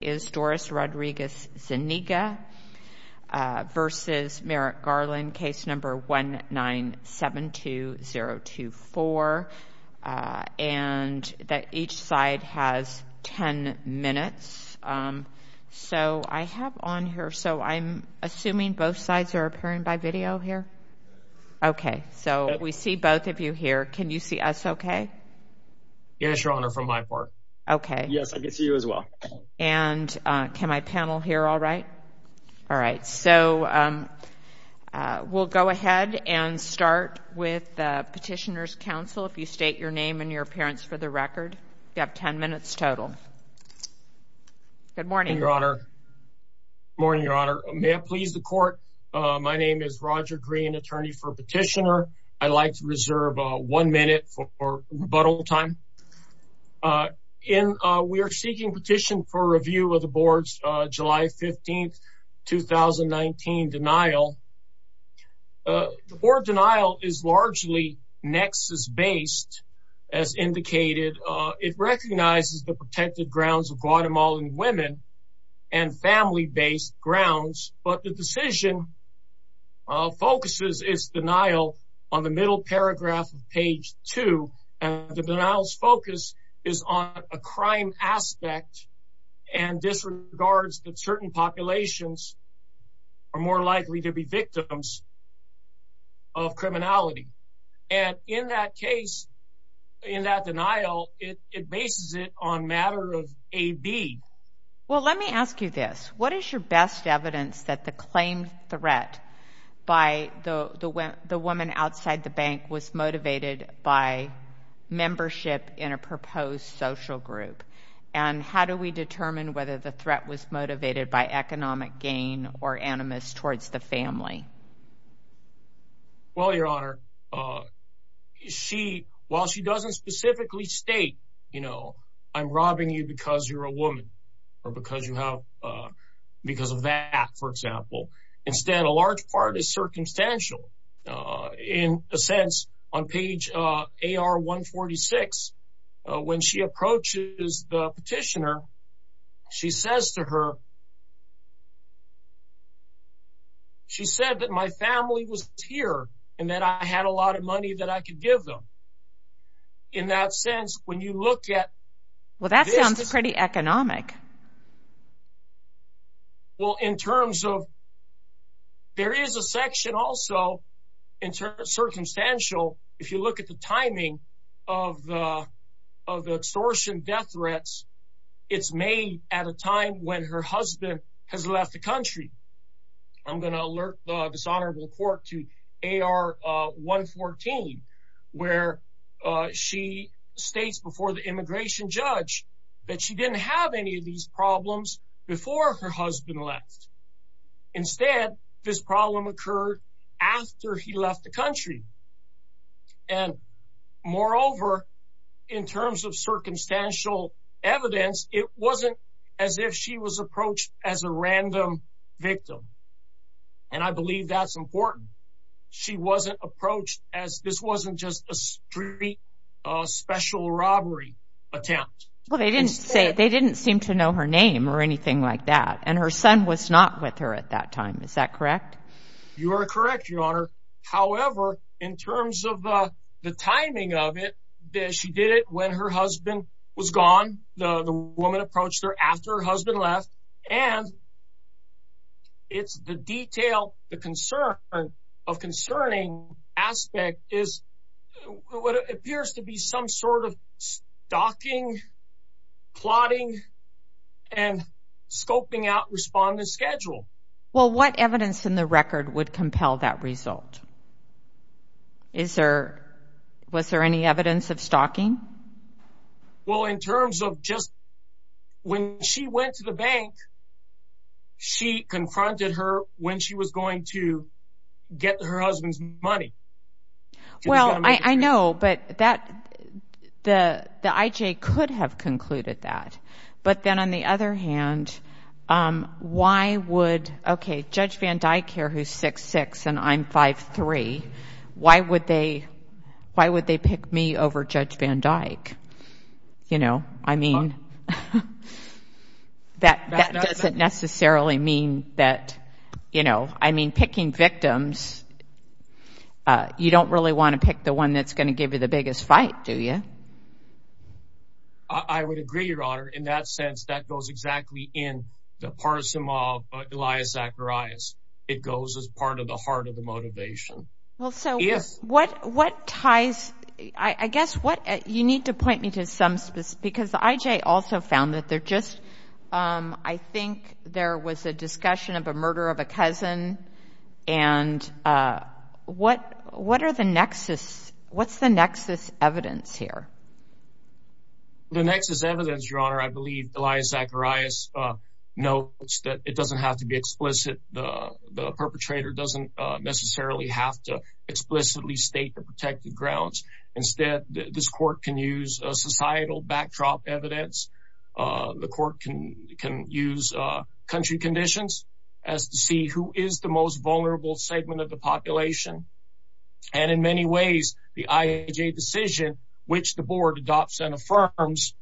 v. Merrick Garland, case number 1972024, and that each side has 10 minutes. So I have on here, so I'm assuming both sides are appearing by video here? Okay, so we see both of you here. Can you see us okay? Yes, Your Honor, from my part. Okay. Yes, I can see you as And can I panel here? All right. All right. So we'll go ahead and start with the Petitioner's Council. If you state your name and your appearance for the record, you have 10 minutes total. Good morning, Your Honor. Good morning, Your Honor. May it please the court. My name is Roger Green, attorney for Petitioner. I'd like to reserve one minute for rebuttal time. We are seeking petition for review of the board's July 15, 2019, denial. The board denial is largely nexus-based, as indicated. It recognizes the protected grounds of Guatemalan women and family-based grounds, but the decision focuses its denial on the middle paragraph of page two, and the denial's focus is on a crime aspect and disregards that certain populations are more likely to be victims of criminality. And in that case, in that denial, it bases it on matter of AB. Well, let me ask you this. What is your best evidence that the claimed threat by the woman outside the bank was motivated by membership in a proposed social group? And how do we determine whether the threat was motivated by economic gain or animus towards the family? Well, Your Honor, she, while she doesn't specifically state, you know, I'm robbing you because you're a woman, or because you have, because of that, for example, instead, a large part is circumstantial. In a sense, on page AR 146, when she approaches the petitioner, she says to her, she said that my family was here, and that I had a lot of money that I could give them. In that sense, when you look at... Well, that sounds pretty economic. Well, in terms of, there is a section also, in terms of circumstantial, if you look at the timing of the extortion death threats, it's made at a time when her husband has left the country. I'm going to alert the dishonorable court to AR 114, where she states before the immigration judge, that she didn't have any of these problems before her husband left. Instead, this problem occurred after he left the country. And moreover, in terms of circumstantial evidence, it wasn't as if she was approached as a believe that's important. She wasn't approached as this wasn't just a street special robbery attempt. Well, they didn't say, they didn't seem to know her name or anything like that. And her son was not with her at that time. Is that correct? You are correct, Your Honor. However, in terms of the timing of it, she did it when her husband was gone. The detail, the concern of concerning aspect is what appears to be some sort of stalking, plotting, and scoping out respondent schedule. Well, what evidence in the record would compel that result? Is there, was there any evidence of stalking? Well, in terms of just when she went to the bank, she confronted her when she was going to get her husband's money. Well, I know, but that the the IJ could have concluded that. But then on the other hand, why would, okay, Judge Van Dyke here, who's 6'6 and I'm 5'3, why would they, why would they pick me over Judge Van Dyke? You know, I mean, that doesn't necessarily mean that, you know, I mean, picking victims, you don't really want to pick the one that's going to give you the biggest fight, do you? I would agree, Your Honor. In that sense, that goes exactly in the parsim of Elias Zacharias. It goes as part of the heart of the motivation. Well, so what, what ties, I guess what you need to point me to some specific, because the IJ also found that they're just, I think there was a discussion of a murder of a cousin. And what, what are the nexus? What's the nexus evidence here? The nexus evidence, Your Honor, I believe Elias Zacharias notes that it doesn't have to be explicit. The perpetrator doesn't necessarily have to explicitly state the protected grounds. Instead, this court can use societal backdrop evidence. The country conditions as to see who is the most vulnerable segment of the population. And in many ways, the IJ decision, which the board adopts and affirms,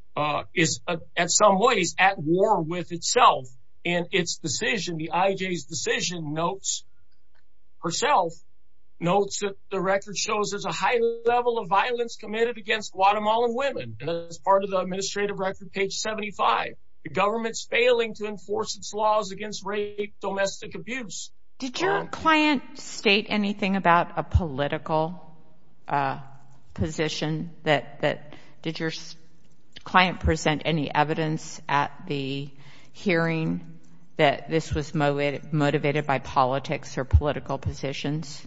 is at some ways at war with itself. And its decision, the IJ's decision notes herself, notes that the record shows there's a high level of violence committed against Guatemalan women. And as part of the administrative record, page 75, the government's failing to enforce its laws against rape, domestic abuse. Did your client state anything about a political position that, that, did your client present any evidence at the hearing that this was motivated by politics or political positions?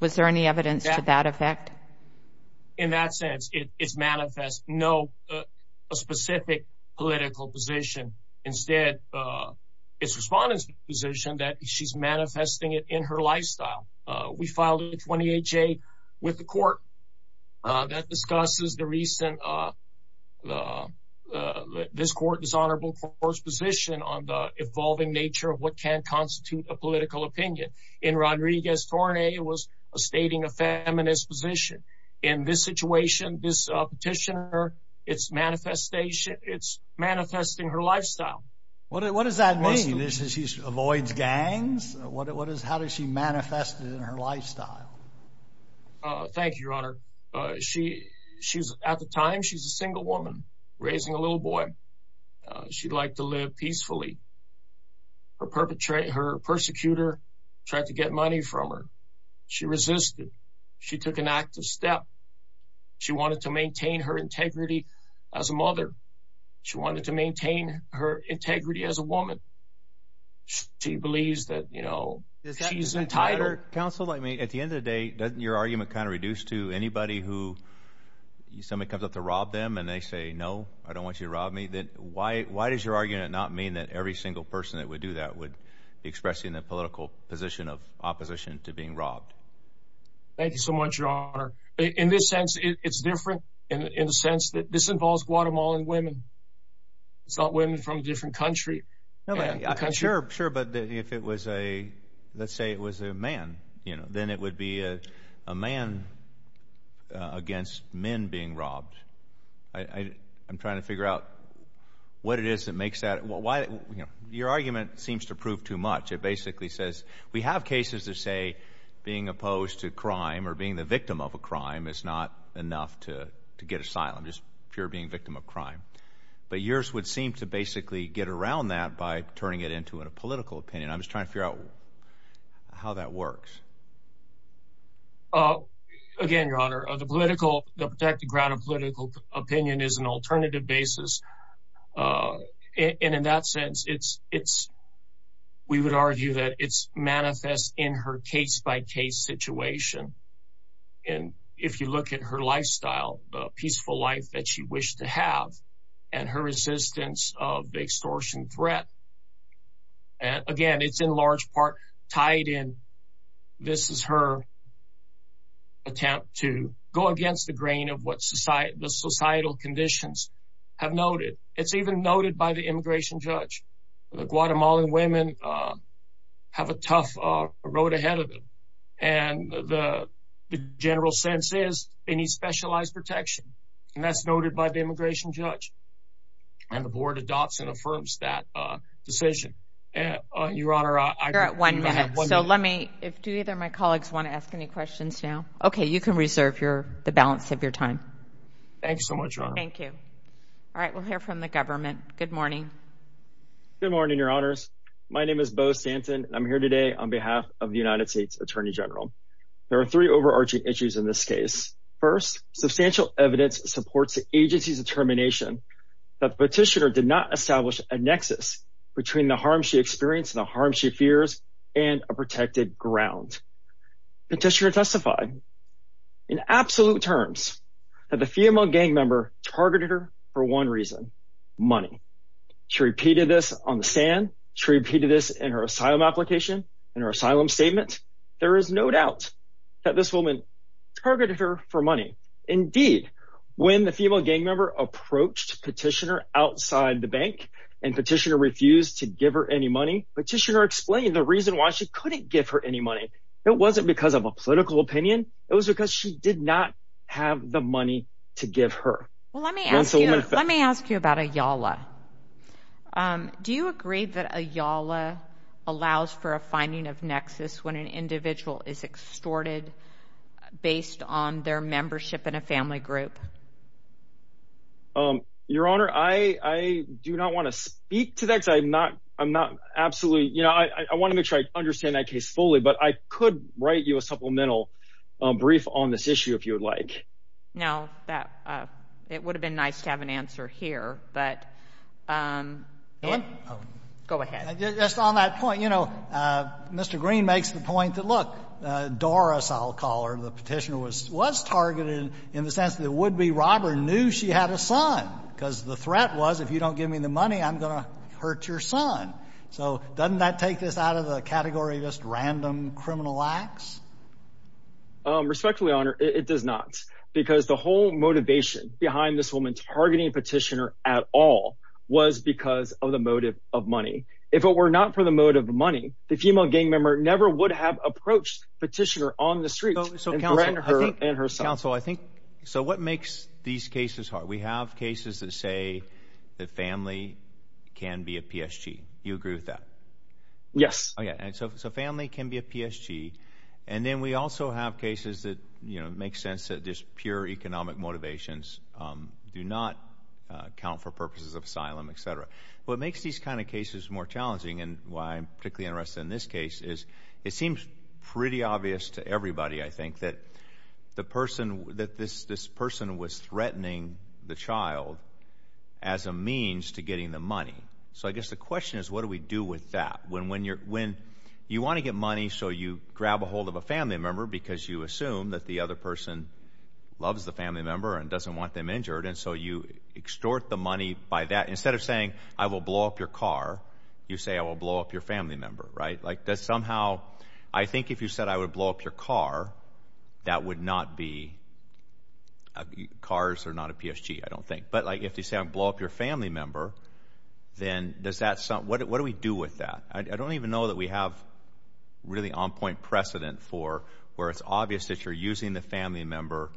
Was there any evidence to that effect? In that sense, it is manifest. No, a specific political position. Instead, it's the respondent's position that she's manifesting it in her lifestyle. We filed a 28-J with the court that discusses the recent, this court dishonorable court's position on the evolving nature of what can constitute a political opinion. In Rodriguez-Torne, it was stating a feminist position. In this situation, this petitioner, it's manifestation, it's manifesting her lifestyle. What does that mean? She avoids gangs? What is, how does she manifest it in her lifestyle? Thank you, Your Honor. She, she's, at the time, she's a single woman raising a little boy. She'd like to live peacefully. Her perpetrator, her persecutor tried to get money from her. She resisted. She took an active step. She wanted to maintain her integrity as a mother. She wanted to maintain her integrity as a woman. She believes that, you know, she's entitled. Counsel, let me, at the end of the day, doesn't your argument kind of reduce to anybody who, somebody comes up to rob them and they say, no, I don't want you to rob me? Then why, why does your argument not mean that every single person that would do that would express in the political position of opposition to being robbed? Thank you so much, Your Honor. In this sense, it's different in the sense that this involves Guatemalan women. It's not women from a different country. Sure, sure. But if it was a, let's say it was a man, you know, then it would be a man against men being robbed. I, I'm trying to figure out what it is that makes that, why, you know, your argument seems to prove too much. It basically says, we have cases that say being opposed to crime or being the victim of a crime is not enough to get asylum, just pure being victim of crime. But yours would seem to basically get around that by turning it into a political opinion. I'm just trying to figure out how that works. Again, Your Honor, the political, the protected ground of political opinion is an alternative basis. And in that sense, it's, it's, we would argue that it's manifest in her case by case situation. And if you look at her lifestyle, the peaceful life that she wished to have, and her resistance of the extortion threat. And again, it's in large part tied in. This is her attempt to go against the grain of what society, the societal conditions have noted. It's even noted by the immigration judge. The Guatemalan women have a tough road ahead of them. And the general sense is any specialized protection. And that's noted by the immigration judge. And the board adopts and affirms that decision. And Your Honor, I got one. So let me if do either my colleagues want to ask any questions now. Okay, you can reserve your the balance of your time. Thanks so much. Thank you. All right, we'll hear from the government. Good morning. Good morning, Your Honors. My name is Beau Stanton. I'm here today on behalf of the United States Attorney General. There are three overarching issues in this case. First, substantial evidence supports the agency's determination that the petitioner did not establish a nexus between the harm she experienced and the harm she fears and a protected ground. Petitioner testified in absolute terms that the female gang member targeted her for one reason, money. She repeated this on the stand. She repeated this in her asylum application, in her asylum statement. There is no doubt that this woman targeted her for money. Indeed, when the female gang member approached petitioner outside the bank, and petitioner refused to give her any money, petitioner explained the reason why she couldn't give her any money. It wasn't because of a political opinion. It was because she did not have the money to give her. Well, let me ask you, let me ask you about a Yala. Do you agree that a Yala allows for a finding of nexus when an individual is extorted based on their membership in a family group? Your Honor, I do not want to speak to that. I'm not. I'm not. Absolutely. You know, I want to make sure I understand that case fully. But I could write you a supplemental brief on this issue if you would like. No, that it would have been nice to have an answer here. But go ahead. Just on that point, you know, Mr. Green makes the point that, look, Doris, I'll call her. The petitioner was was targeted in the sense that would be robber knew she had a son because the threat was if you don't give me the money, I'm going to hurt your son. So doesn't that take this out of the category of just random criminal acts? Respectfully, Honor, it does not, because the whole motivation behind this woman targeting petitioner at all was because of the motive of money. If it were not for the motive of money, the female gang member never would have approached petitioner on the street. So right under her and her yes. So family can be a PSG. And then we also have cases that, you know, make sense that this pure economic motivations do not count for purposes of asylum, etcetera. What makes these kind of cases more challenging and why I'm particularly interested in this case is it seems pretty obvious to everybody. I think that the person that this this person was threatening the child as a means to getting the money. So I guess the question is, what do we do with that when when you're when you want to get money? So you grab a hold of a family member because you assume that the other person loves the family member and doesn't want them injured. And so you extort the money by that. Instead of saying I will blow up your car, you say I will blow up your family member, right? Like that's somehow I think if you said I would blow up your car, that would not be cars or not a PSG, I like if you say I blow up your family member, then does that sound? What do we do with that? I don't even know that we have really on point precedent for where it's obvious that you're using the family member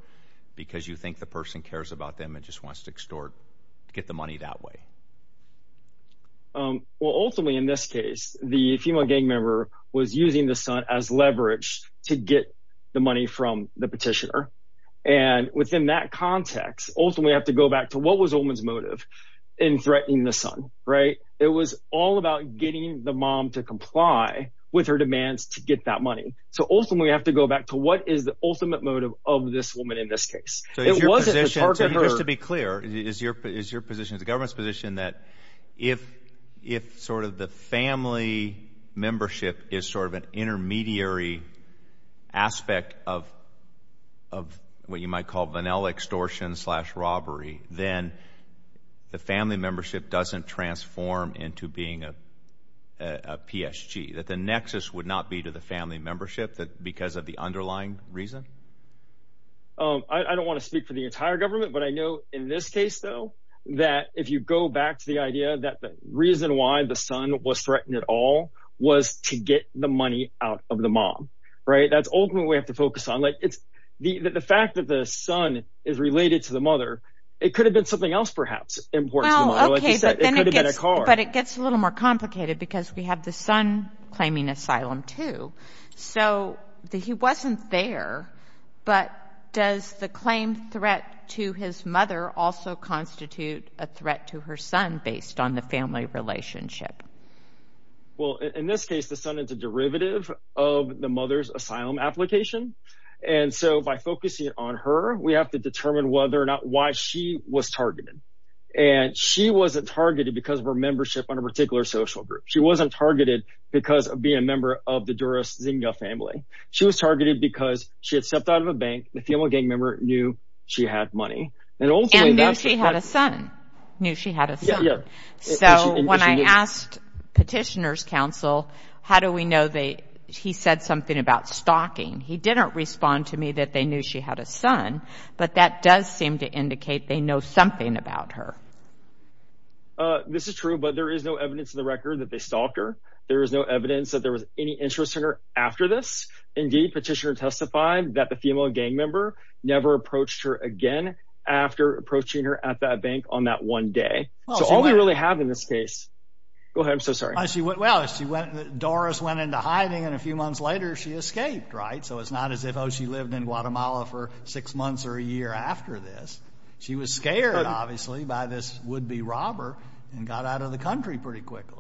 because you think the person cares about them and just wants to extort to get the money that way. Well, ultimately, in this case, the female gang member was using the son as leverage to get the money from the petitioner. And within that context, ultimately, we have to go back to what was the woman's motive in threatening the son, right? It was all about getting the mom to comply with her demands to get that money. So ultimately, we have to go back to what is the ultimate motive of this woman in this case? So it wasn't just to be clear, is your is your position is the government's position that if, if sort of the family membership is sort of an robbery, then the family membership doesn't transform into being a PSG that the nexus would not be to the family membership that because of the underlying reason? Oh, I don't want to speak for the entire government. But I know in this case, though, that if you go back to the idea that the reason why the son was threatened at all was to get the money out of the mom, right? That's ultimately have to focus on like it's the fact that the son is related to the mother, it could have been something else, perhaps important. But it gets a little more complicated, because we have the son claiming asylum, too. So that he wasn't there. But does the claim threat to his mother also constitute a threat to her son based on the family relationship? Well, in this case, the son is a derivative of the mother's asylum application. And so by focusing on her, we have to determine whether or why she was targeted. And she wasn't targeted because of her membership on a particular social group. She wasn't targeted because of being a member of the Duras Zinga family. She was targeted because she had stepped out of a bank, the female gang member knew she had money. And ultimately, she had a son, knew she had a son. So when I asked petitioners counsel, how do we know they he said something about her? And they didn't indicate they know something about her. This is true. But there is no evidence of the record that they stalked her. There is no evidence that there was any interest in her after this. Indeed, petitioner testified that the female gang member never approached her again, after approaching her at that bank on that one day. So all we really have in this case, go ahead. I'm so sorry. I see what well, she went Doris went into hiding. And a few months later, she escaped, right. So it's not as if Oh, she lived in Guatemala for six months or a year after this. She was scared, obviously, by this would be robber and got out of the country pretty quickly.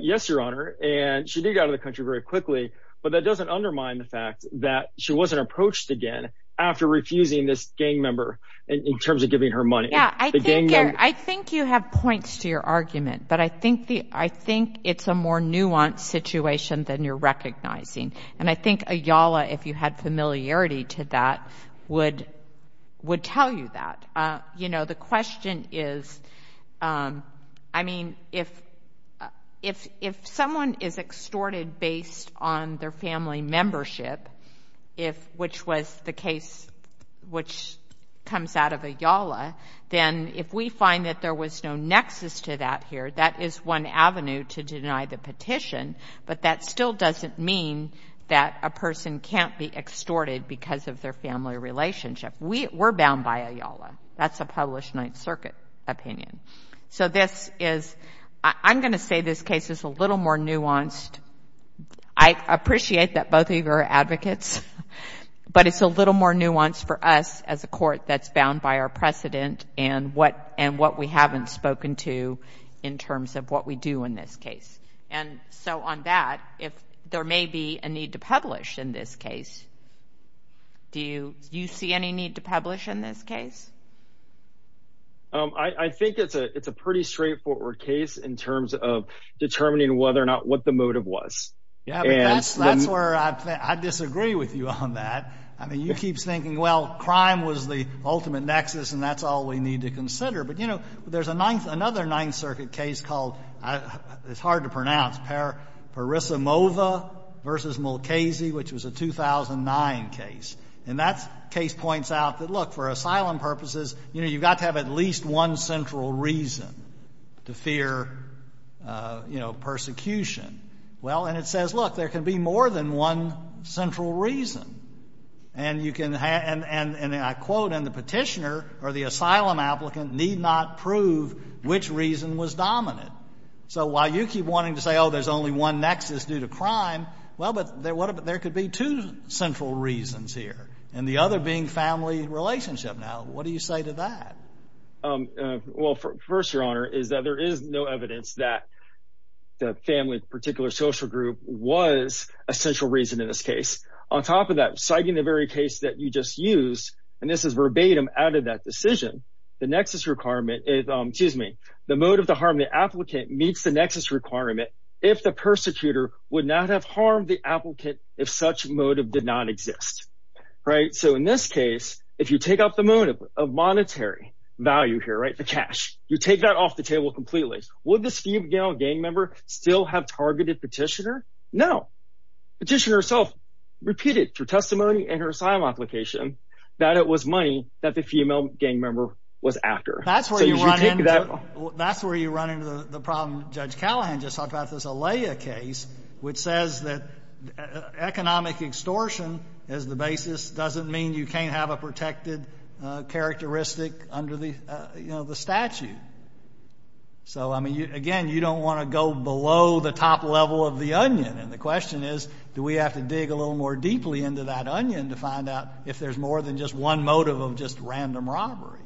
Yes, Your Honor. And she did go to the country very quickly. But that doesn't undermine the fact that she wasn't approached again, after refusing this gang member in terms of giving her money. I think you have points to your argument. But I think the I think it's a more nuanced situation than you're recognizing. And I think Ayala, if you had familiarity to that, would would tell you that, you know, the question is, I mean, if, if if someone is extorted based on their family membership, if which was the case, which comes out of Ayala, then if we find that there was no nexus to that here, that is one avenue to deny the petition. But that still doesn't mean that a person can't be extorted because of their family relationship. We were bound by Ayala. That's a thing for advocates. But it's a little more nuanced for us as a court that's bound by our precedent and what and what we haven't spoken to in terms of what we do in this case. And so on that, if there may be a need to publish in this case, do you do you see any need to publish in this case? I think it's a it's a pretty straightforward case in terms of determining whether or not what the motive was. Yeah, that's that's where I disagree with you on that. I mean, you keep thinking, well, crime was the ultimate nexus, and that's all we need to consider. But, you know, there's a ninth, another Ninth Circuit case called, it's hard to pronounce, Parissa Mova versus Mulcazy, which was a 2009 case. And that case points out that, look, for asylum purposes, you know, you've got to have at least one central reason to fear, you know, persecution. Well, and it says, look, there can be more than one central reason. And you can and I quote, and the petitioner or the asylum applicant need not prove which reason was dominant. So while you keep wanting to say, oh, there's only one nexus due to crime, well, but there could be two central reasons here. And the other being family relationship. Now, what do you say to that? Well, first, Your Honor, is that there is no evidence that the family particular social group was a central reason in this case. On top of that, citing the very case that you just used, and this is verbatim out of that decision, the nexus requirement is, excuse me, the motive to harm the applicant meets the nexus requirement if the persecutor would not have harmed the applicant if such motive did not exist. Right. So in this case, if you take up the motive of monetary value here, right, the cash, you take that off the table completely. Would this female gang member still have targeted petitioner? No. Petitioner herself repeated through testimony and her asylum application that it was money that the female gang member was after. That's where you run into that. That's where you run into the problem. Judge Callahan just talked about this Alaya case, which says that economic extortion as the basis doesn't mean you can't have a protected characteristic under the, you know, the statute. So, I mean, again, you don't want to go below the top level of the onion. And the question is, do we have to dig a little more deeply into that onion to find out if there's more than just one motive of just random robbery?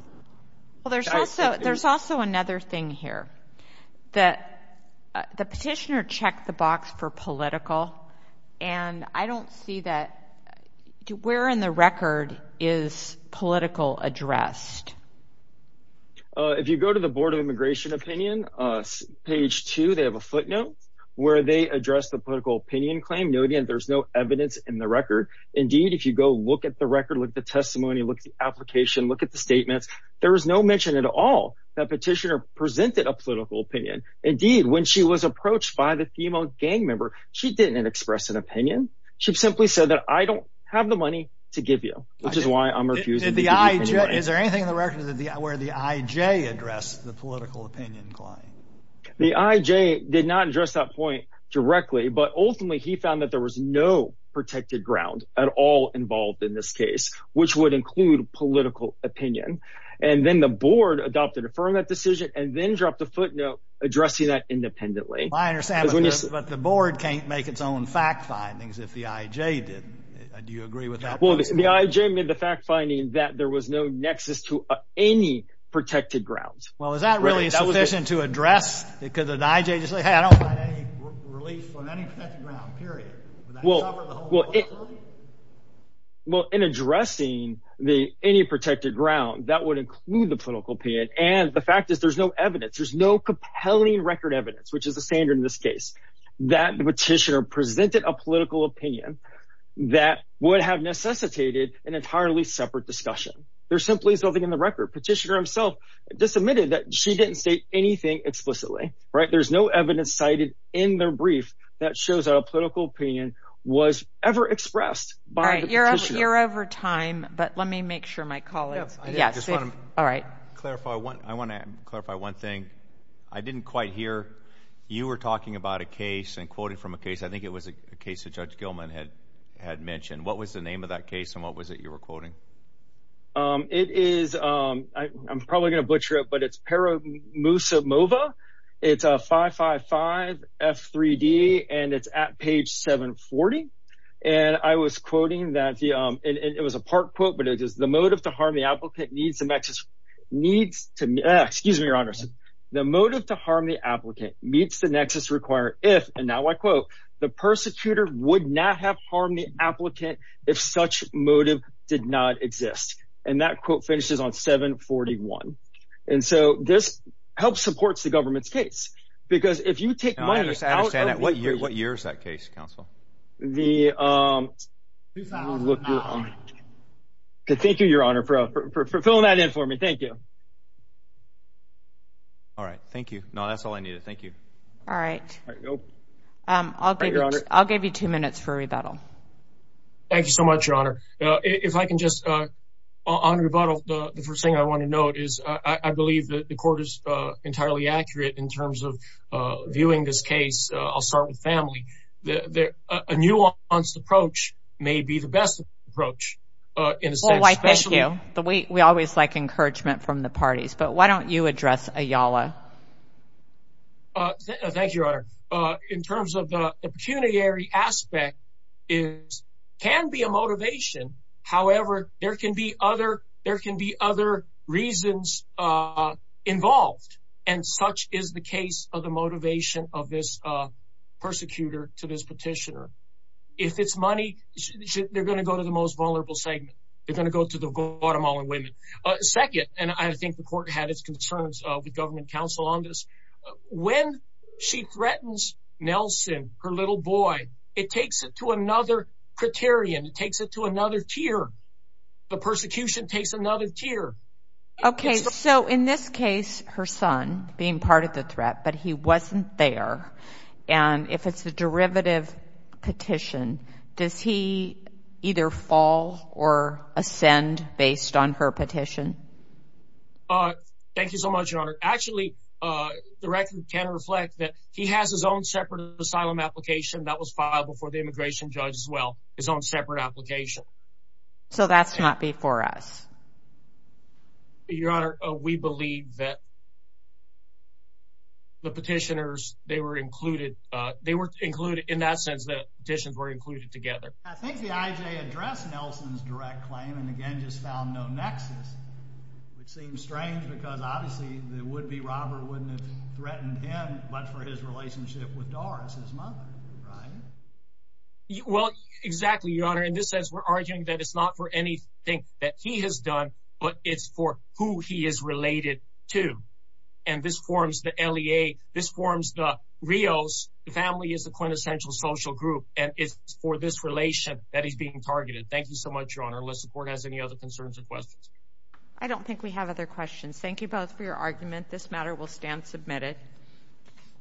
Well, there's also there's also another thing here that the petitioner checked the box for political. And I don't see that. Where in the record is political addressed? If you go to the Board of Immigration Opinion, page two, they have a footnote where they address the political opinion claim. No, there's no evidence in the record. Indeed, if you go look at the record, look at the testimony, look at the application, look at the statements, there is no mention at all that petitioner presented a political opinion. Indeed, when she was approached by the female gang member, she didn't express an opinion. She simply said that I don't have the money to give you, which is why I'm refusing the idea. Is there anything in the record where the IJ addressed the political opinion claim? The IJ did not address that point directly. But ultimately, he found that there was no protected ground at all involved in this case, which would include political opinion. And then the board adopted a firm that decision and then dropped a footnote addressing that independently. I understand. But the board can't make its own fact findings if the IJ did. Do you agree with that? The IJ made the fact finding that there was no nexus to any protected grounds. Well, is that really sufficient to address? Because the IJ just said, hey, I don't find any relief from any protected ground, period. Would that cover the whole authority? Well, in addressing any protected ground, that would include the political opinion. And the fact is, there's no evidence, there's no compelling record evidence, which is the standard in this case, that the petitioner presented a political opinion that would have necessitated an entirely separate discussion. There's simply nothing in the record. Petitioner himself just admitted that she didn't state anything explicitly, right? There's no evidence cited in their brief that shows that a political opinion was ever expressed by the petitioner. You're over time, but let me make sure my colleagues... I want to clarify one thing. I didn't quite hear you were talking about a case and quoting from a case. I think it was a case that Judge Gilman had mentioned. What was the name of that case and what was it you were quoting? It is, I'm probably going to butcher it, but it's Paramoosa Mova. It's a 555 F3D and it's at page 740. And I was quoting that, and it was a part quote, but it is, the motive to harm the applicant needs to, excuse me, your honor, the motive to harm the applicant meets the nexus required if, and now I quote, the persecutor would not have harmed the applicant if such motive did not exist. And that quote finishes on 741. And so this helps support the government's case, because if you take money... I understand that. What year is that case, counsel? 2009. Good. Thank you, your honor, for filling that in for me. Thank you. All right. Thank you. No, that's all I needed. Thank you. All right. I'll give you two minutes for rebuttal. Thank you so much, your honor. If I can just, on rebuttal, the first thing I want to note is I believe that the court is entirely accurate in terms of viewing this case. I'll start with family. A nuanced approach may be the best approach in a sense. Well, thank you. We always like encouragement from the parties, but why don't you address Ayala? Thank you, your honor. In terms of the pecuniary aspect, it can be a motivation. However, there can be other reasons involved, and such is the case of the motivation of this persecutor to this petitioner. If it's money, they're going to go to the most vulnerable segment. They're going to go to the Guatemalan women. Second, and I think the court had its concerns with government counsel on this, when she threatens Nelson, her little boy, it takes it to another criterion. It takes it to another tier. The persecution takes another tier. Okay, so in this case, her son being part of the threat, but he wasn't there, and if it's a derivative petition, does he either fall or ascend based on her petition? Thank you so much, your honor. Actually, the record can reflect that he has his own separate asylum application that was filed before the immigration judge as well, his own separate application. So that's not before us? Your honor, we believe that the petitioners, they were included. They were included in that sense that petitions were included together. I think the IJ addressed Nelson's direct claim and again just found no nexus. It seems strange because obviously the would-be robber wouldn't have threatened him much for his relationship with Doris, his mother, right? Well, exactly, your honor. In this sense, we're arguing that it's not for anything that he has done, but it's for who he is related to, and this forms the LEA. This forms the Rios. The family is the quintessential social group, and it's for this relation that he's being targeted. Thank you so much, your honor. Unless the court has any other concerns or questions. I don't think we have other questions. Thank you for your argument. This matter will stand submitted.